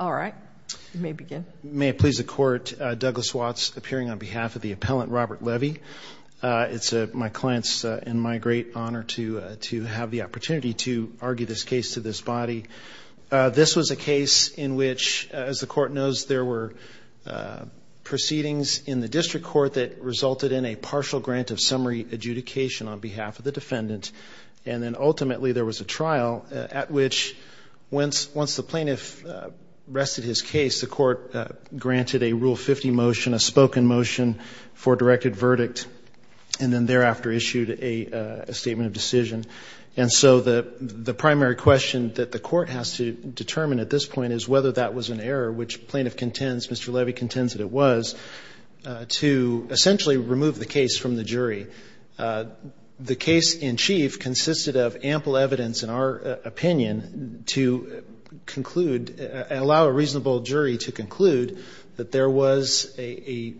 All right, you may begin. May it please the court, Douglas Watts appearing on behalf of the appellant Robert Levy. It's my client's and my great honor to to have the opportunity to argue this case to this body. This was a case in which, as the court knows, there were proceedings in the district court that resulted in a partial grant of summary adjudication on behalf of the defendant and then rested his case. The court granted a rule 50 motion, a spoken motion for directed verdict, and then thereafter issued a statement of decision. And so the the primary question that the court has to determine at this point is whether that was an error, which plaintiff contends, Mr. Levy contends that it was, to essentially remove the case from the jury. The case in chief allow a reasonable jury to conclude that there was a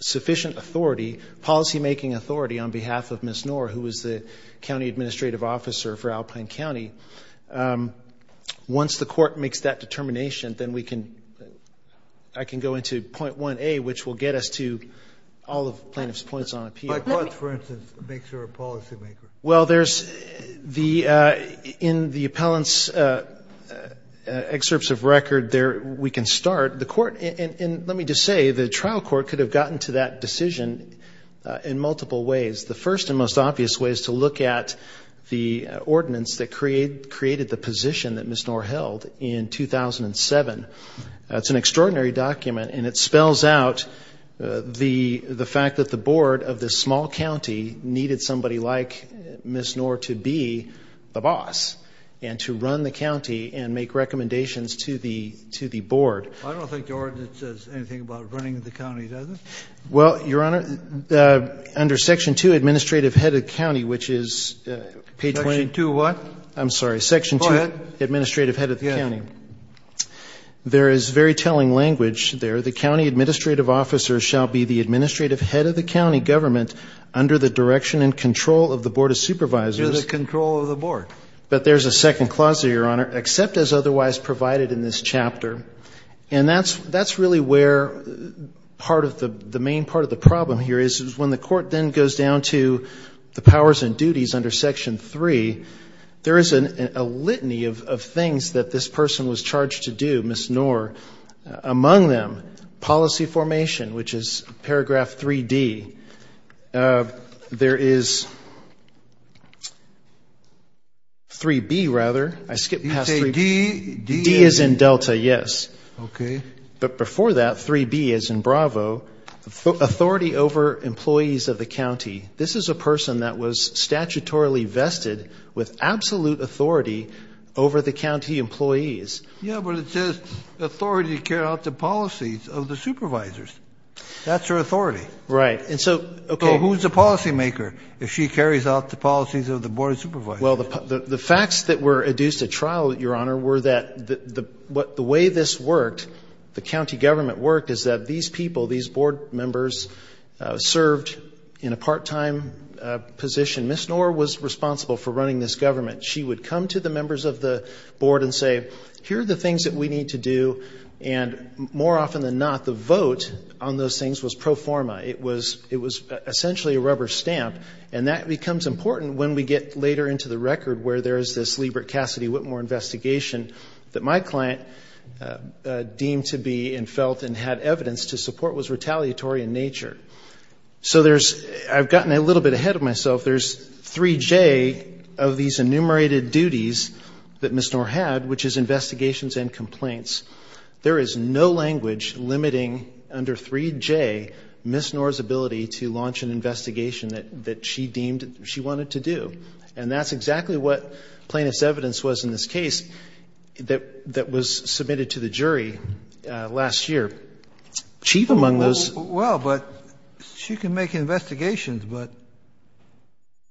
sufficient authority, policymaking authority, on behalf of Ms. Knorr, who was the county administrative officer for Alpine County. Once the court makes that determination, then we can, I can go into point 1a, which will get us to all of plaintiff's points on appeal. Well, there's the, in the appellant's excerpts of record there, we can start. The court, and let me just say, the trial court could have gotten to that decision in multiple ways. The first and most obvious way is to look at the ordinance that created the position that Ms. Knorr held in 2007. That's an extraordinary document and it spells out the the fact that the board of this small county needed somebody like Ms. Knorr to be the boss and to run the county and make recommendations to the, to the board. I don't think the ordinance says anything about running the county, does it? Well, Your Honor, under section 2, administrative head of county, which is page 20. Section 2 what? I'm sorry, section 2. Go ahead. Administrative head of the county. Yeah. There is very telling head of the county government under the direction and control of the board of supervisors. Under the control of the board. But there's a second clause there, Your Honor. Except as otherwise provided in this chapter. And that's, that's really where part of the, the main part of the problem here is, is when the court then goes down to the powers and duties under section 3, there is a litany of things that this person was charged to do, Ms. Knorr. Among them, policy formation, which is paragraph 3D. There is 3B, rather. I skipped past 3B. You say D, D is? D is in Delta, yes. Okay. But before that, 3B is in Bravo. Authority over employees of the county. This is a person that was statutorily vested with absolute authority over the county employees. Yeah, but it says authority to carry out the policies of the board of supervisors. That's her authority. Right. And so, okay. So who's the policymaker if she carries out the policies of the board of supervisors? Well, the facts that were adduced at trial, Your Honor, were that the way this worked, the county government worked, is that these people, these board members, served in a part-time position. Ms. Knorr was responsible for running this government. She would come to the members of the board and say, here are the things that we need to do. And more often than not, the vote on those things was pro forma. It was essentially a rubber stamp. And that becomes important when we get later into the record where there's this Liebert Cassidy Whitmore investigation that my client deemed to be and felt and had evidence to support was retaliatory in nature. So there's, I've gotten a little bit ahead of myself, there's 3J of these enumerated duties that Ms. Knorr had, which is investigations and complaints. There is no language limiting under 3J Ms. Knorr's ability to launch an investigation that she deemed she wanted to do. And that's exactly what plaintiff's evidence was in this case that was submitted to the jury last year. Chief among those... Well, but she can make investigations, but,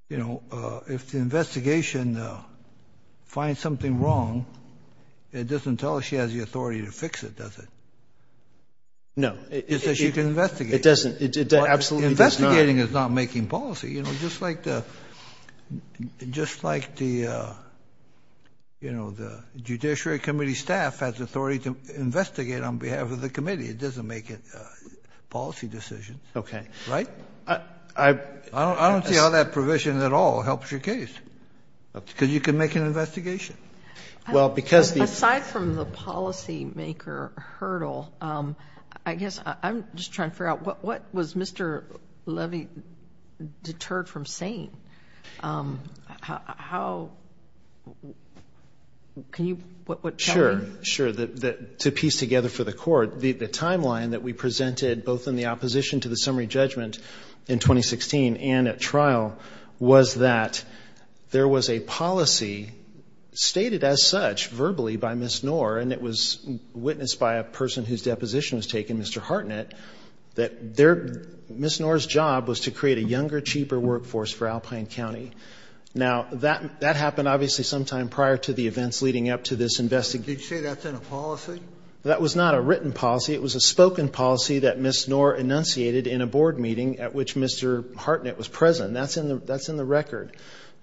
you know, if the investigation finds something wrong, it doesn't tell us she has the authority to fix it, does it? No. It says she can investigate. It doesn't, it absolutely does not. Investigating is not making policy, you know, just like the, just like the, you know, the Judiciary Committee staff has authority to investigate on behalf of the committee. It doesn't make it policy decisions. Okay. Right? I don't see how that provision at all helps your case, because you can make an investigation. Well, because... Aside from the policymaker hurdle, I guess I'm just trying to figure out what was Mr. Levy deterred from saying? How, can you... Sure, sure, that to piece together for the timeline that we presented, both in the opposition to the summary judgment in 2016 and at trial, was that there was a policy stated as such verbally by Ms. Knorr, and it was witnessed by a person whose deposition was taken, Mr. Hartnett, that there, Ms. Knorr's job was to create a younger, cheaper workforce for Alpine County. Now, that, that happened obviously sometime prior to the events leading up to this investigation. Did you say that's in a policy? That was not a written policy. It was a spoken policy that Ms. Knorr enunciated in a board meeting at which Mr. Hartnett was present. That's in the, that's in the record.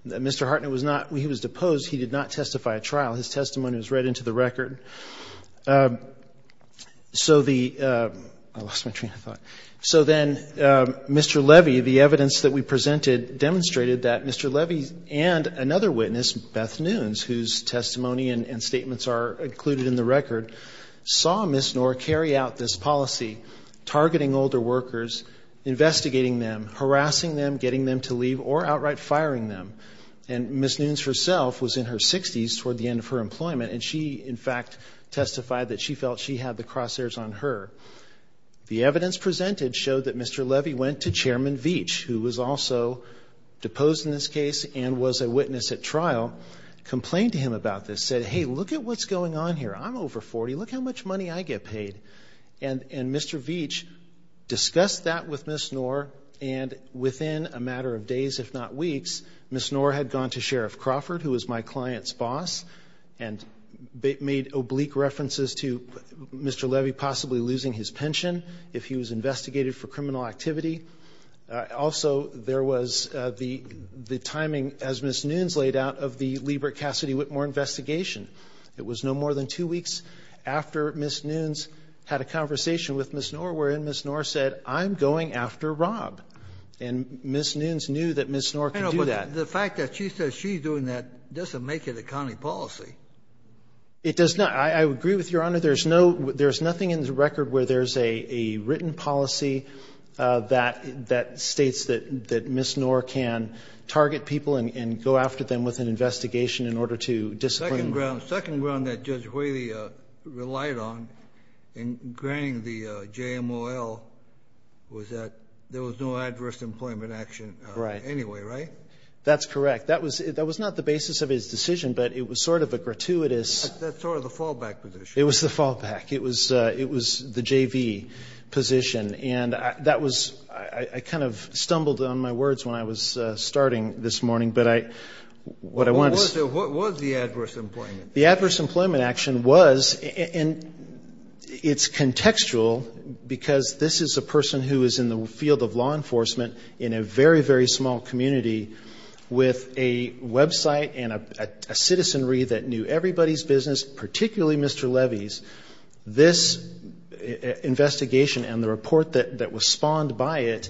Mr. Hartnett was not, he was deposed. He did not testify at trial. His testimony was read into the record. So the, I lost my train of thought. So then, Mr. Levy, the evidence that we presented demonstrated that Mr. Levy and another witness, Beth Nunes, whose testimony and, and statements are included in the record, saw Ms. Knorr carry out this policy, targeting older workers, investigating them, harassing them, getting them to leave, or outright firing them. And Ms. Nunes herself was in her 60s toward the end of her employment, and she, in fact, testified that she felt she had the crosshairs on her. The evidence presented showed that Mr. Levy went to Chairman Veach, who was also deposed in this case and was a witness at trial, complained to him about this, said, hey, look at what's going on here. I'm over 40. Look how much money I get paid. And, and Mr. Veach discussed that with Ms. Knorr, and within a matter of days, if not weeks, Ms. Knorr had gone to Sheriff Crawford, who is my client's boss, and made oblique references to Mr. Levy possibly losing his pension if he was investigated for criminal activity. Also, there was the, the timing, as Ms. Nunes laid out, of the Liebert-Cassidy-Whitmore investigation. It was no more than two weeks after Ms. Nunes had a conversation with Ms. Knorr, wherein Ms. Knorr said, I'm going after Rob. And Ms. Nunes knew that Ms. Knorr could do that. Kennedy. I know, but the fact that she says she's doing that doesn't make it a county policy. O'Connor. It does not. I, I agree with Your Honor. There's no, there's nothing in the record where there's a, a written policy that, that states that, that Ms. Knorr can target people and, and go after them with an investigation in order to Kennedy. Second ground, second ground that Judge Whaley relied on in granting the JMOL was that there was no adverse employment action anyway, right? O'Connor. That's correct. That was, that was not the basis of his decision, but it was sort of a gratuitous. Kennedy. That's sort of the fallback position. O'Connor. It was the fallback. It was, it was the JV position. And that was, I, I was starting this morning, but I, what I wanted to say. Kennedy. What was the, what was the adverse employment? O'Connor. The adverse employment action was, and it's contextual because this is a person who is in the field of law enforcement in a very, very small community with a website and a citizenry that knew everybody's business, particularly Mr. Levy's. This investigation and the report that, that was spawned by it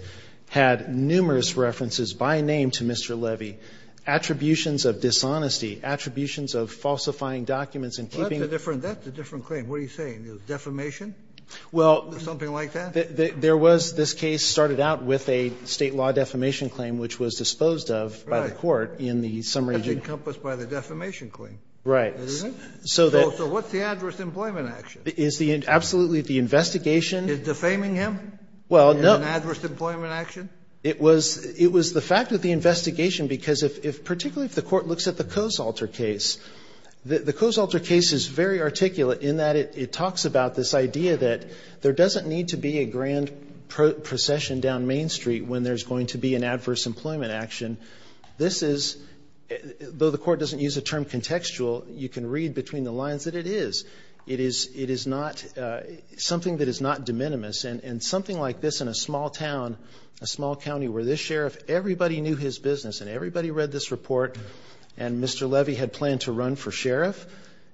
had numerous references by name to Mr. Levy, attributions of dishonesty, attributions of falsifying documents and keeping... Kennedy. That's a different, that's a different claim. What are you saying? It was defamation? O'Connor. Well... Kennedy. Something like that? O'Connor. There was, this case started out with a state law defamation claim, which was disposed of by the court in the summary... Kennedy. That's encompassed by the defamation claim. O'Connor. Right. Kennedy. Is it? O'Connor. So that... O'Connor. Is the, absolutely the investigation... Kennedy. Is defaming him? O'Connor. Well, no... Kennedy. In an adverse employment action? O'Connor. It was, it was the fact that the investigation, because if, if particularly if the court looks at the Coase alter case, the Coase alter case is very articulate in that it, it talks about this idea that there doesn't need to be a grand procession down Main Street when there's going to be an adverse employment action. This is, though the court doesn't use the term contextual, you can read between the lines that it is. It is, it is not, something that is not de minimis and, and something like this in a small town, a small county where this sheriff, everybody knew his business and everybody read this report and Mr. Levy had planned to run for sheriff.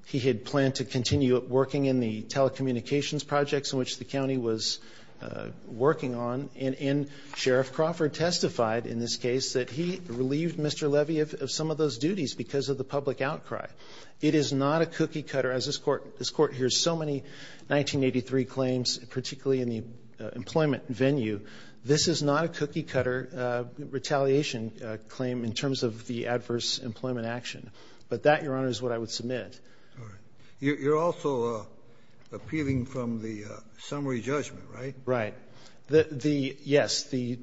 He had planned to continue working in the telecommunications projects in which the county was working on and, and Sheriff Crawford testified in this case that he relieved Mr. Levy of, of some of those This court hears so many 1983 claims, particularly in the employment venue. This is not a cookie cutter retaliation claim in terms of the adverse employment action. But that, Your Honor, is what I would submit. You're also appealing from the summary judgment, right? Right. The, the, yes, the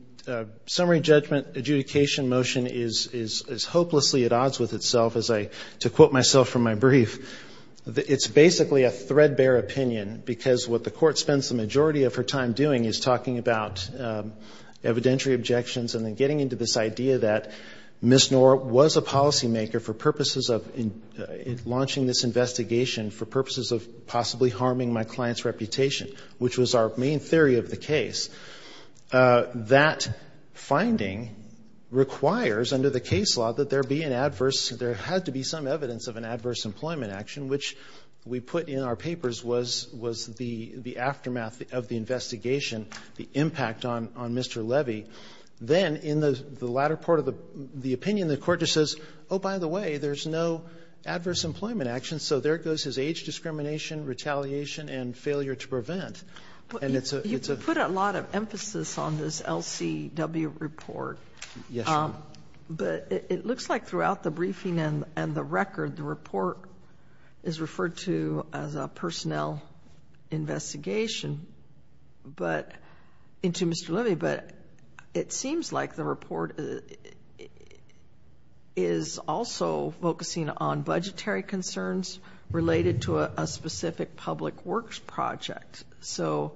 summary judgment adjudication motion is, is, is hopelessly odds with itself as I, to quote myself from my brief, it's basically a threadbare opinion because what the court spends the majority of her time doing is talking about evidentiary objections and then getting into this idea that Ms. Knorr was a policymaker for purposes of launching this investigation for purposes of possibly harming my client's reputation, which was our main theory of the case. That finding requires under the case law that there be an adverse, there had to be some evidence of an adverse employment action, which we put in our papers was, was the, the aftermath of the investigation, the impact on, on Mr. Levy. Then in the latter part of the opinion, the court just says, oh, by the way, there's no adverse employment action, so there goes his age discrimination, retaliation, and failure to prevent. And it's a, it's a, you put a lot of emphasis on this LCW report, but it looks like throughout the briefing and, and the record, the report is referred to as a personnel investigation, but into Mr. Levy, but it seems like the report is also focusing on this, so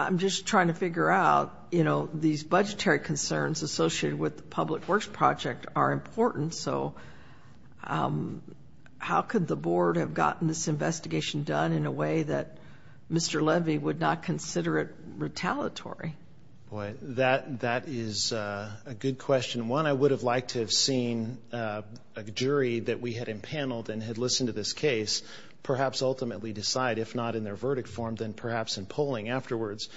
I'm just trying to figure out, you know, these budgetary concerns associated with the Public Works Project are important, so how could the board have gotten this investigation done in a way that Mr. Levy would not consider it retaliatory? Boy, that, that is a good question. One, I would have liked to have seen a jury that we had empaneled and had listened to this case, perhaps ultimately decide, if not in their verdict form, then perhaps in polling afterwards.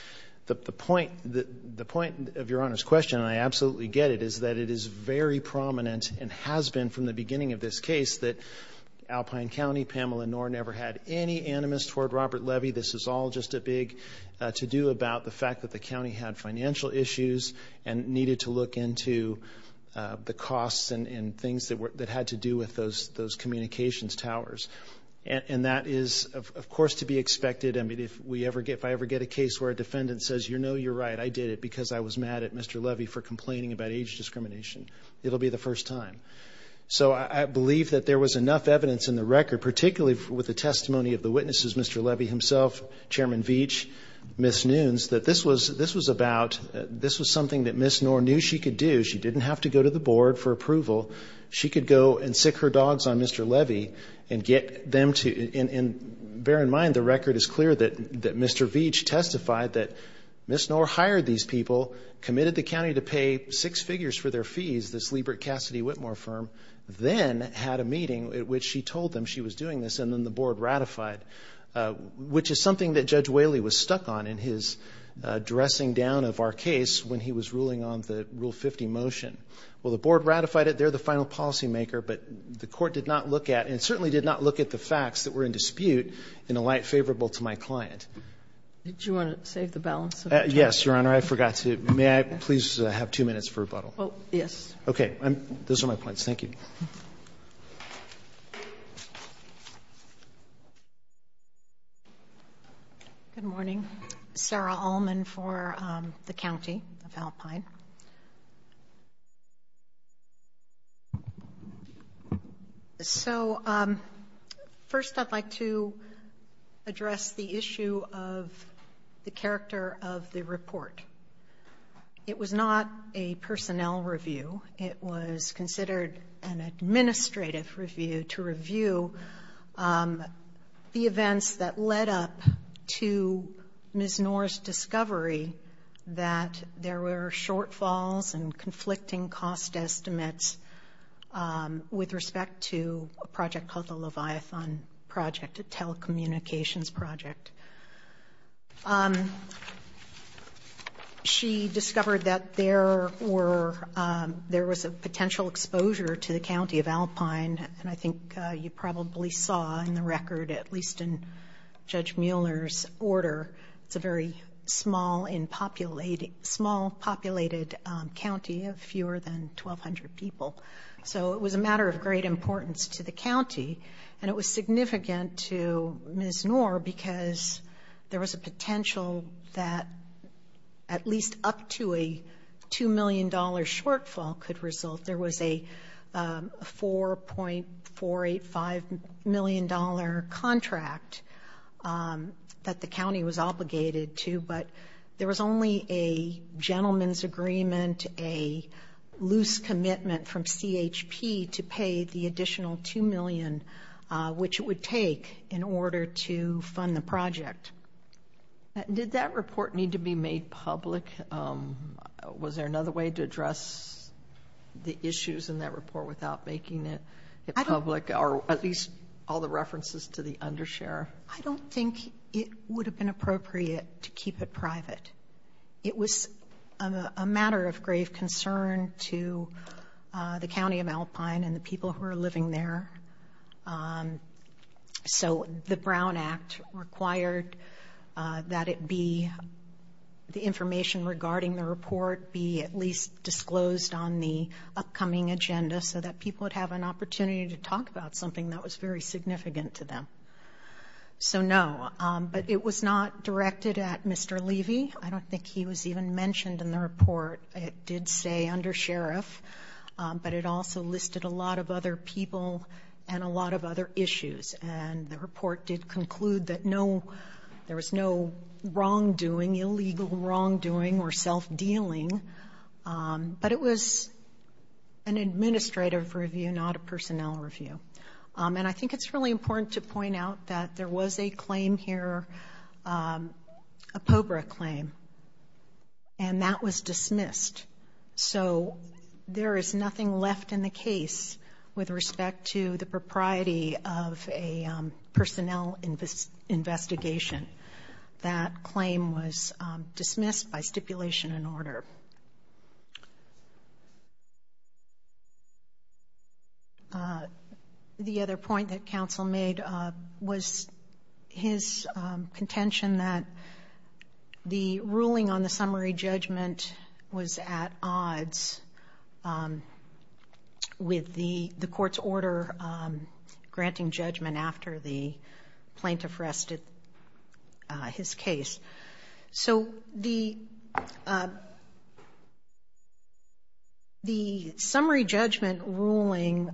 The, the point, the point of Your Honor's question, and I absolutely get it, is that it is very prominent and has been from the beginning of this case that Alpine County, Pamela Knorr never had any animus toward Robert Levy. This is all just a big to-do about the fact that the county had financial issues and needed to look into the costs and, and things that were, that had to do with those, with those communications towers, and, and that is, of course, to be expected, I mean, if we ever get, if I ever get a case where a defendant says, you know, you're right, I did it because I was mad at Mr. Levy for complaining about age discrimination, it'll be the first time. So I, I believe that there was enough evidence in the record, particularly with the testimony of the witnesses, Mr. Levy himself, Chairman Veach, Ms. Nunes, that this was, this was about, this was something that Ms. Knorr knew she could do, she didn't have to go to the courts on Mr. Levy and get them to, and, and bear in mind, the record is clear that, that Mr. Veach testified that Ms. Knorr hired these people, committed the county to pay six figures for their fees, this Liebert Cassidy Whitmore firm, then had a meeting at which she told them she was doing this, and then the board ratified, which is something that Judge Whaley was stuck on in his dressing down of our case when he was ruling on the Rule 50 motion. Well, the board ratified it, they're the final policymaker, but the court did not look at, and certainly did not look at the facts that were in dispute in a light favorable to my client. Did you want to save the balance of the time? Yes, Your Honor, I forgot to, may I please have two minutes for rebuttal? Oh, yes. Okay, I'm, those are my points, thank you. Good morning. Sarah Allman for the County of Alpine. So first I'd like to address the issue of the character of the report. It was not a personnel review, it was considered an administrative review to review the events that led up to Ms. Noor's discovery that there were shortfalls and conflicting cost estimates with respect to a project called the Leviathan Project, a telecommunications project. She discovered that there were, there was a potential exposure to the County of Alpine, and I think you probably saw in the record, at least in Judge Mueller's order, it's a very small and populated, small populated county of fewer than 1,200 people. So it was a matter of great importance to the county, and it was significant to Ms. Noor because there was a potential that at least up to a $2 million shortfall could result. There was a $4.485 million contract that the county was obligated to, but there was only a gentleman's agreement, a loose commitment from CHP to pay the additional $2 million which it would take in order to fund the project. Did that report need to be made public? Was there another way to address the issues in that report without making it public, or at least all the references to the undershare? I don't think it would have been appropriate to keep it private. It was a matter of grave concern to the County of Alpine and the people who are living there. So the Brown Act required that it be, the information regarding the report be at least disclosed on the upcoming agenda so that people would have an opportunity to talk about something that was very significant to them. So no, but it was not directed at Mr. Levy. I don't think he was even mentioned in the report. It did say undersheriff, but it also listed a lot of other people and a lot of other issues. And the report did conclude that there was no wrongdoing, illegal wrongdoing or self-dealing, but it was an administrative review, not a personnel review. And I think it's really important to point out that there was a claim here, a POBRA claim, and that was dismissed. So there is nothing left in the case with respect to the propriety of a personnel investigation. That claim was dismissed by stipulation and order. The other point that counsel made was his contention that the ruling on the summary judgment was at odds with the court's order granting judgment after the plaintiff rested his case. So the summary judgment ruling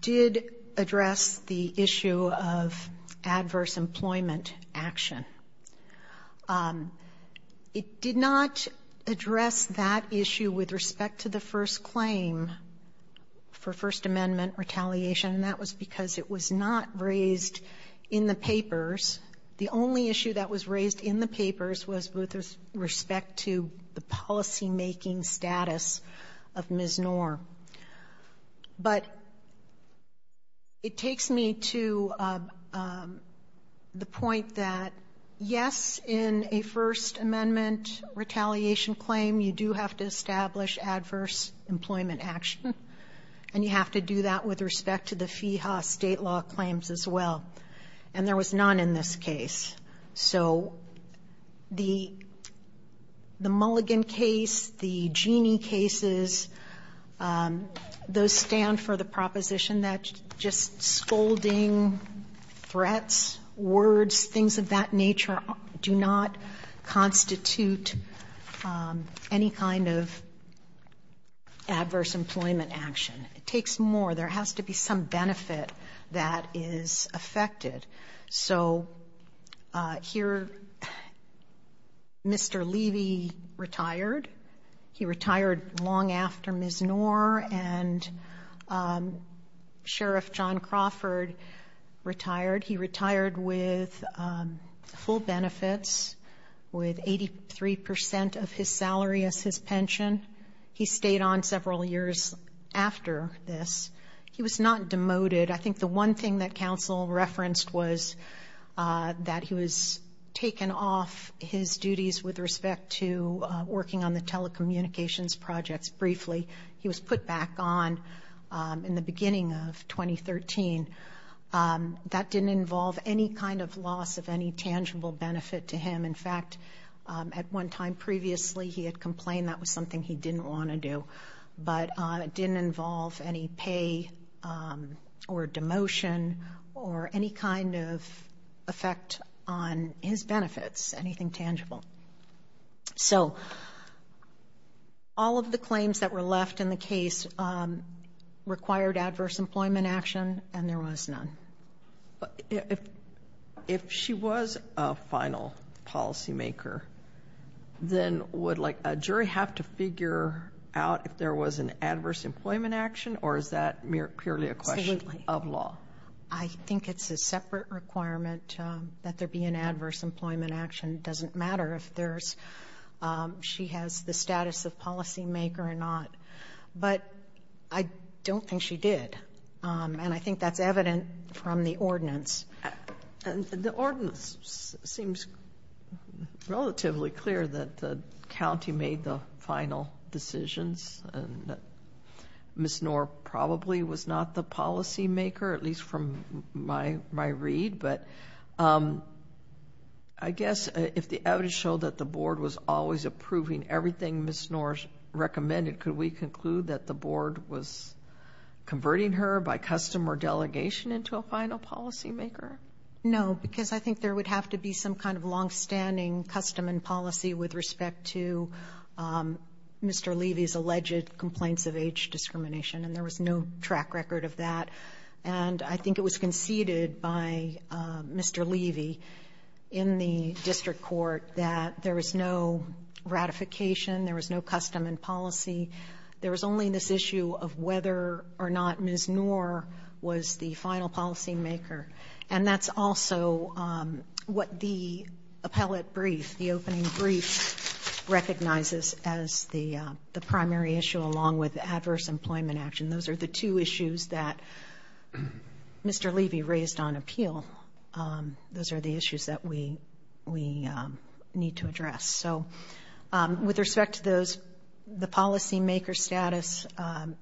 did address the issue of adverse employment action. It did not address that issue with respect to the first claim for First Amendment retaliation, and that was because it was not raised in the papers. The only issue that was raised in the papers was with respect to the policymaking status of Ms. Knorr. But it takes me to the point that, yes, in a First Amendment retaliation claim, you do have to establish adverse employment action, and you have to do that with respect to the FEHA state law claims as well. And there was none in this case. So the Mulligan case, the Genie cases, those stand for the proposition that just scolding threats, words, things of that nature do not constitute any kind of adverse employment action. It takes more. There has to be some benefit that is affected. So here, Mr. Levy retired. He retired long after Ms. Knorr and Sheriff John Crawford retired. He retired with full benefits, with 83 percent of his salary as his pension. He stayed on several years after this. He was not demoted. I think the one thing that counsel referenced was that he was taken off his duties with respect to working on the telecommunications projects briefly. He was put back on in the beginning of 2013. That didn't involve any kind of loss of any tangible benefit to him. In fact, at one time previously, he had complained that was something he didn't want to do. But it didn't involve any pay or demotion or any kind of effect on his benefits, anything tangible. So all of the claims that were left in the case required adverse employment action, and there was none. If she was a final policymaker, then would a jury have to figure out if there was an adverse employment action, or is that purely a question of law? I think it's a separate requirement that there be an adverse employment action. It doesn't matter if she has the status of policymaker or not. But I don't think she did. And I think that's evident from the ordinance. The ordinance seems relatively clear that the county made the final decisions. Ms. Knorr probably was not the policymaker, at least from my read, but I guess if the evidence showed that the board was always approving everything Ms. Knorr recommended, could we conclude that the board was converting her by custom or delegation into a final policymaker? No, because I think there would have to be some kind of longstanding custom and policy with respect to Mr. Levy's alleged complaints of age discrimination, and there was no track record of that. And I think it was conceded by Mr. Levy in the district court that there was no ratification, there was no custom and policy. There was only this issue of whether or not Ms. Knorr was the final policymaker. And that's also what the appellate brief, the opening brief, recognizes as the primary issue along with adverse employment action. Those are the two issues that Mr. Levy raised on appeal. Those are the issues that we need to address. So, with respect to the policymaker status,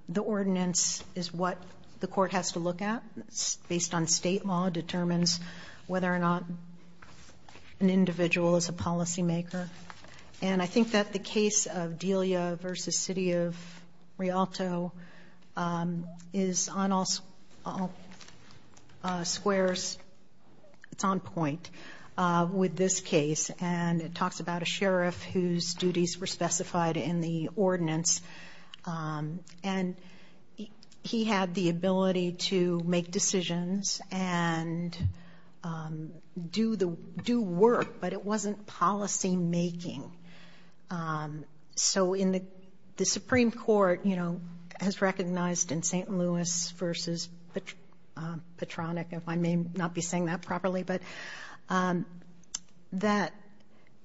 the ordinance is what the court has to look at. It's based on state law, determines whether or not an individual is a policymaker. And I think that the case of Delia v. City of Rialto is on all squares, it's on point with this case, and it talks about a sheriff whose duties were specified in the ordinance. And he had the ability to make decisions and do work, but it wasn't policymaking. So the Supreme Court, you know, has recognized in St. Louis v. Petronic, if I may not be saying that properly, but that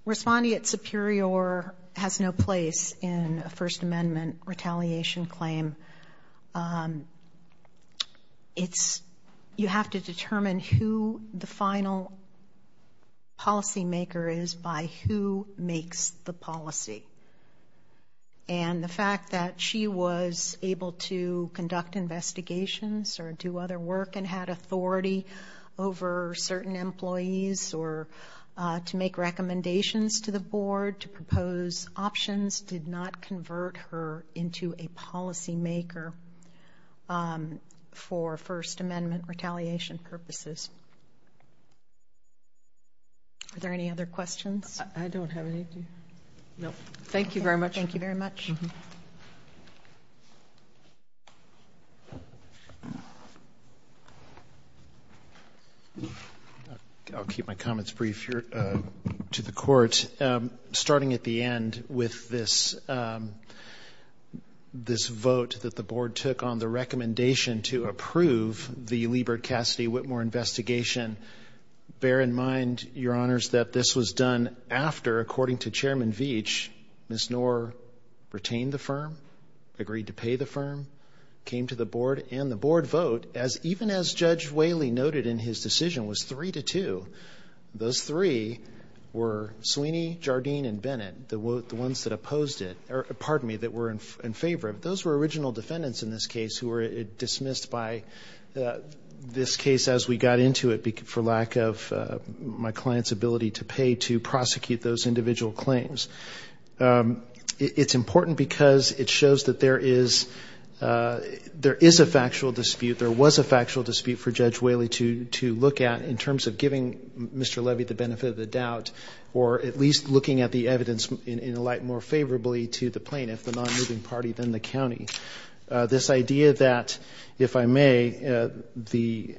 responding at superior has no place in a First Amendment retaliation claim. You have to determine who the final policymaker is by who makes the policy. And the fact that she was able to conduct investigations or do other work and had authority over certain employees or to make recommendations to the board, to propose options, did not convert her into a policymaker for First Amendment retaliation purposes. Are there any other questions? I don't have any. No. Thank you very much. I'll keep my comments brief to the court. Starting at the end with this vote that the board took on the recommendation to approve the Liebert-Cassidy-Whitmore investigation, bear in mind, Your Honors, that this was done after, according to Chairman Veach, Ms. Knorr retained the firm, agreed to pay the firm, came to the board, and the board vote, even as Judge Whaley noted in his decision, was three to two. Those three were Sweeney, Jardine, and Bennett, the ones that opposed it, or pardon me, that were in favor of it. Those were original defendants in this case who were dismissed by this case as we got into it for lack of my client's ability to pay to prosecute those individual claims. It's important because it shows that there is a factual dispute. There was a factual dispute for Judge Whaley to look at in terms of giving Mr. Levy the benefit of the doubt, or at least looking at the evidence in a light more favorably to the plaintiff, the non-moving party, than the county. This idea that, if I may, the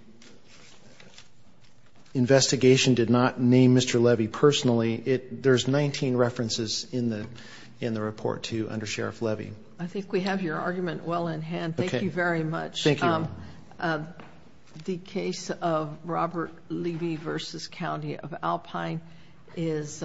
investigation did not name Mr. Levy personally, there's 19 references in the report to under Sheriff Levy. I think we have your argument well in hand. Thank you very much. Thank you. The case of Robert Levy v. County of Alpine is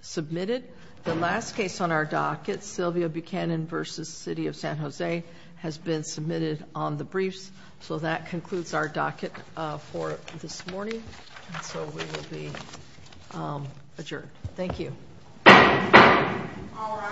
submitted. The last case on our docket, Sylvia Buchanan v. City of San Jose, has been submitted on the briefs, so that concludes our docket for this morning, and so we will be adjourned. Thank you. All rise.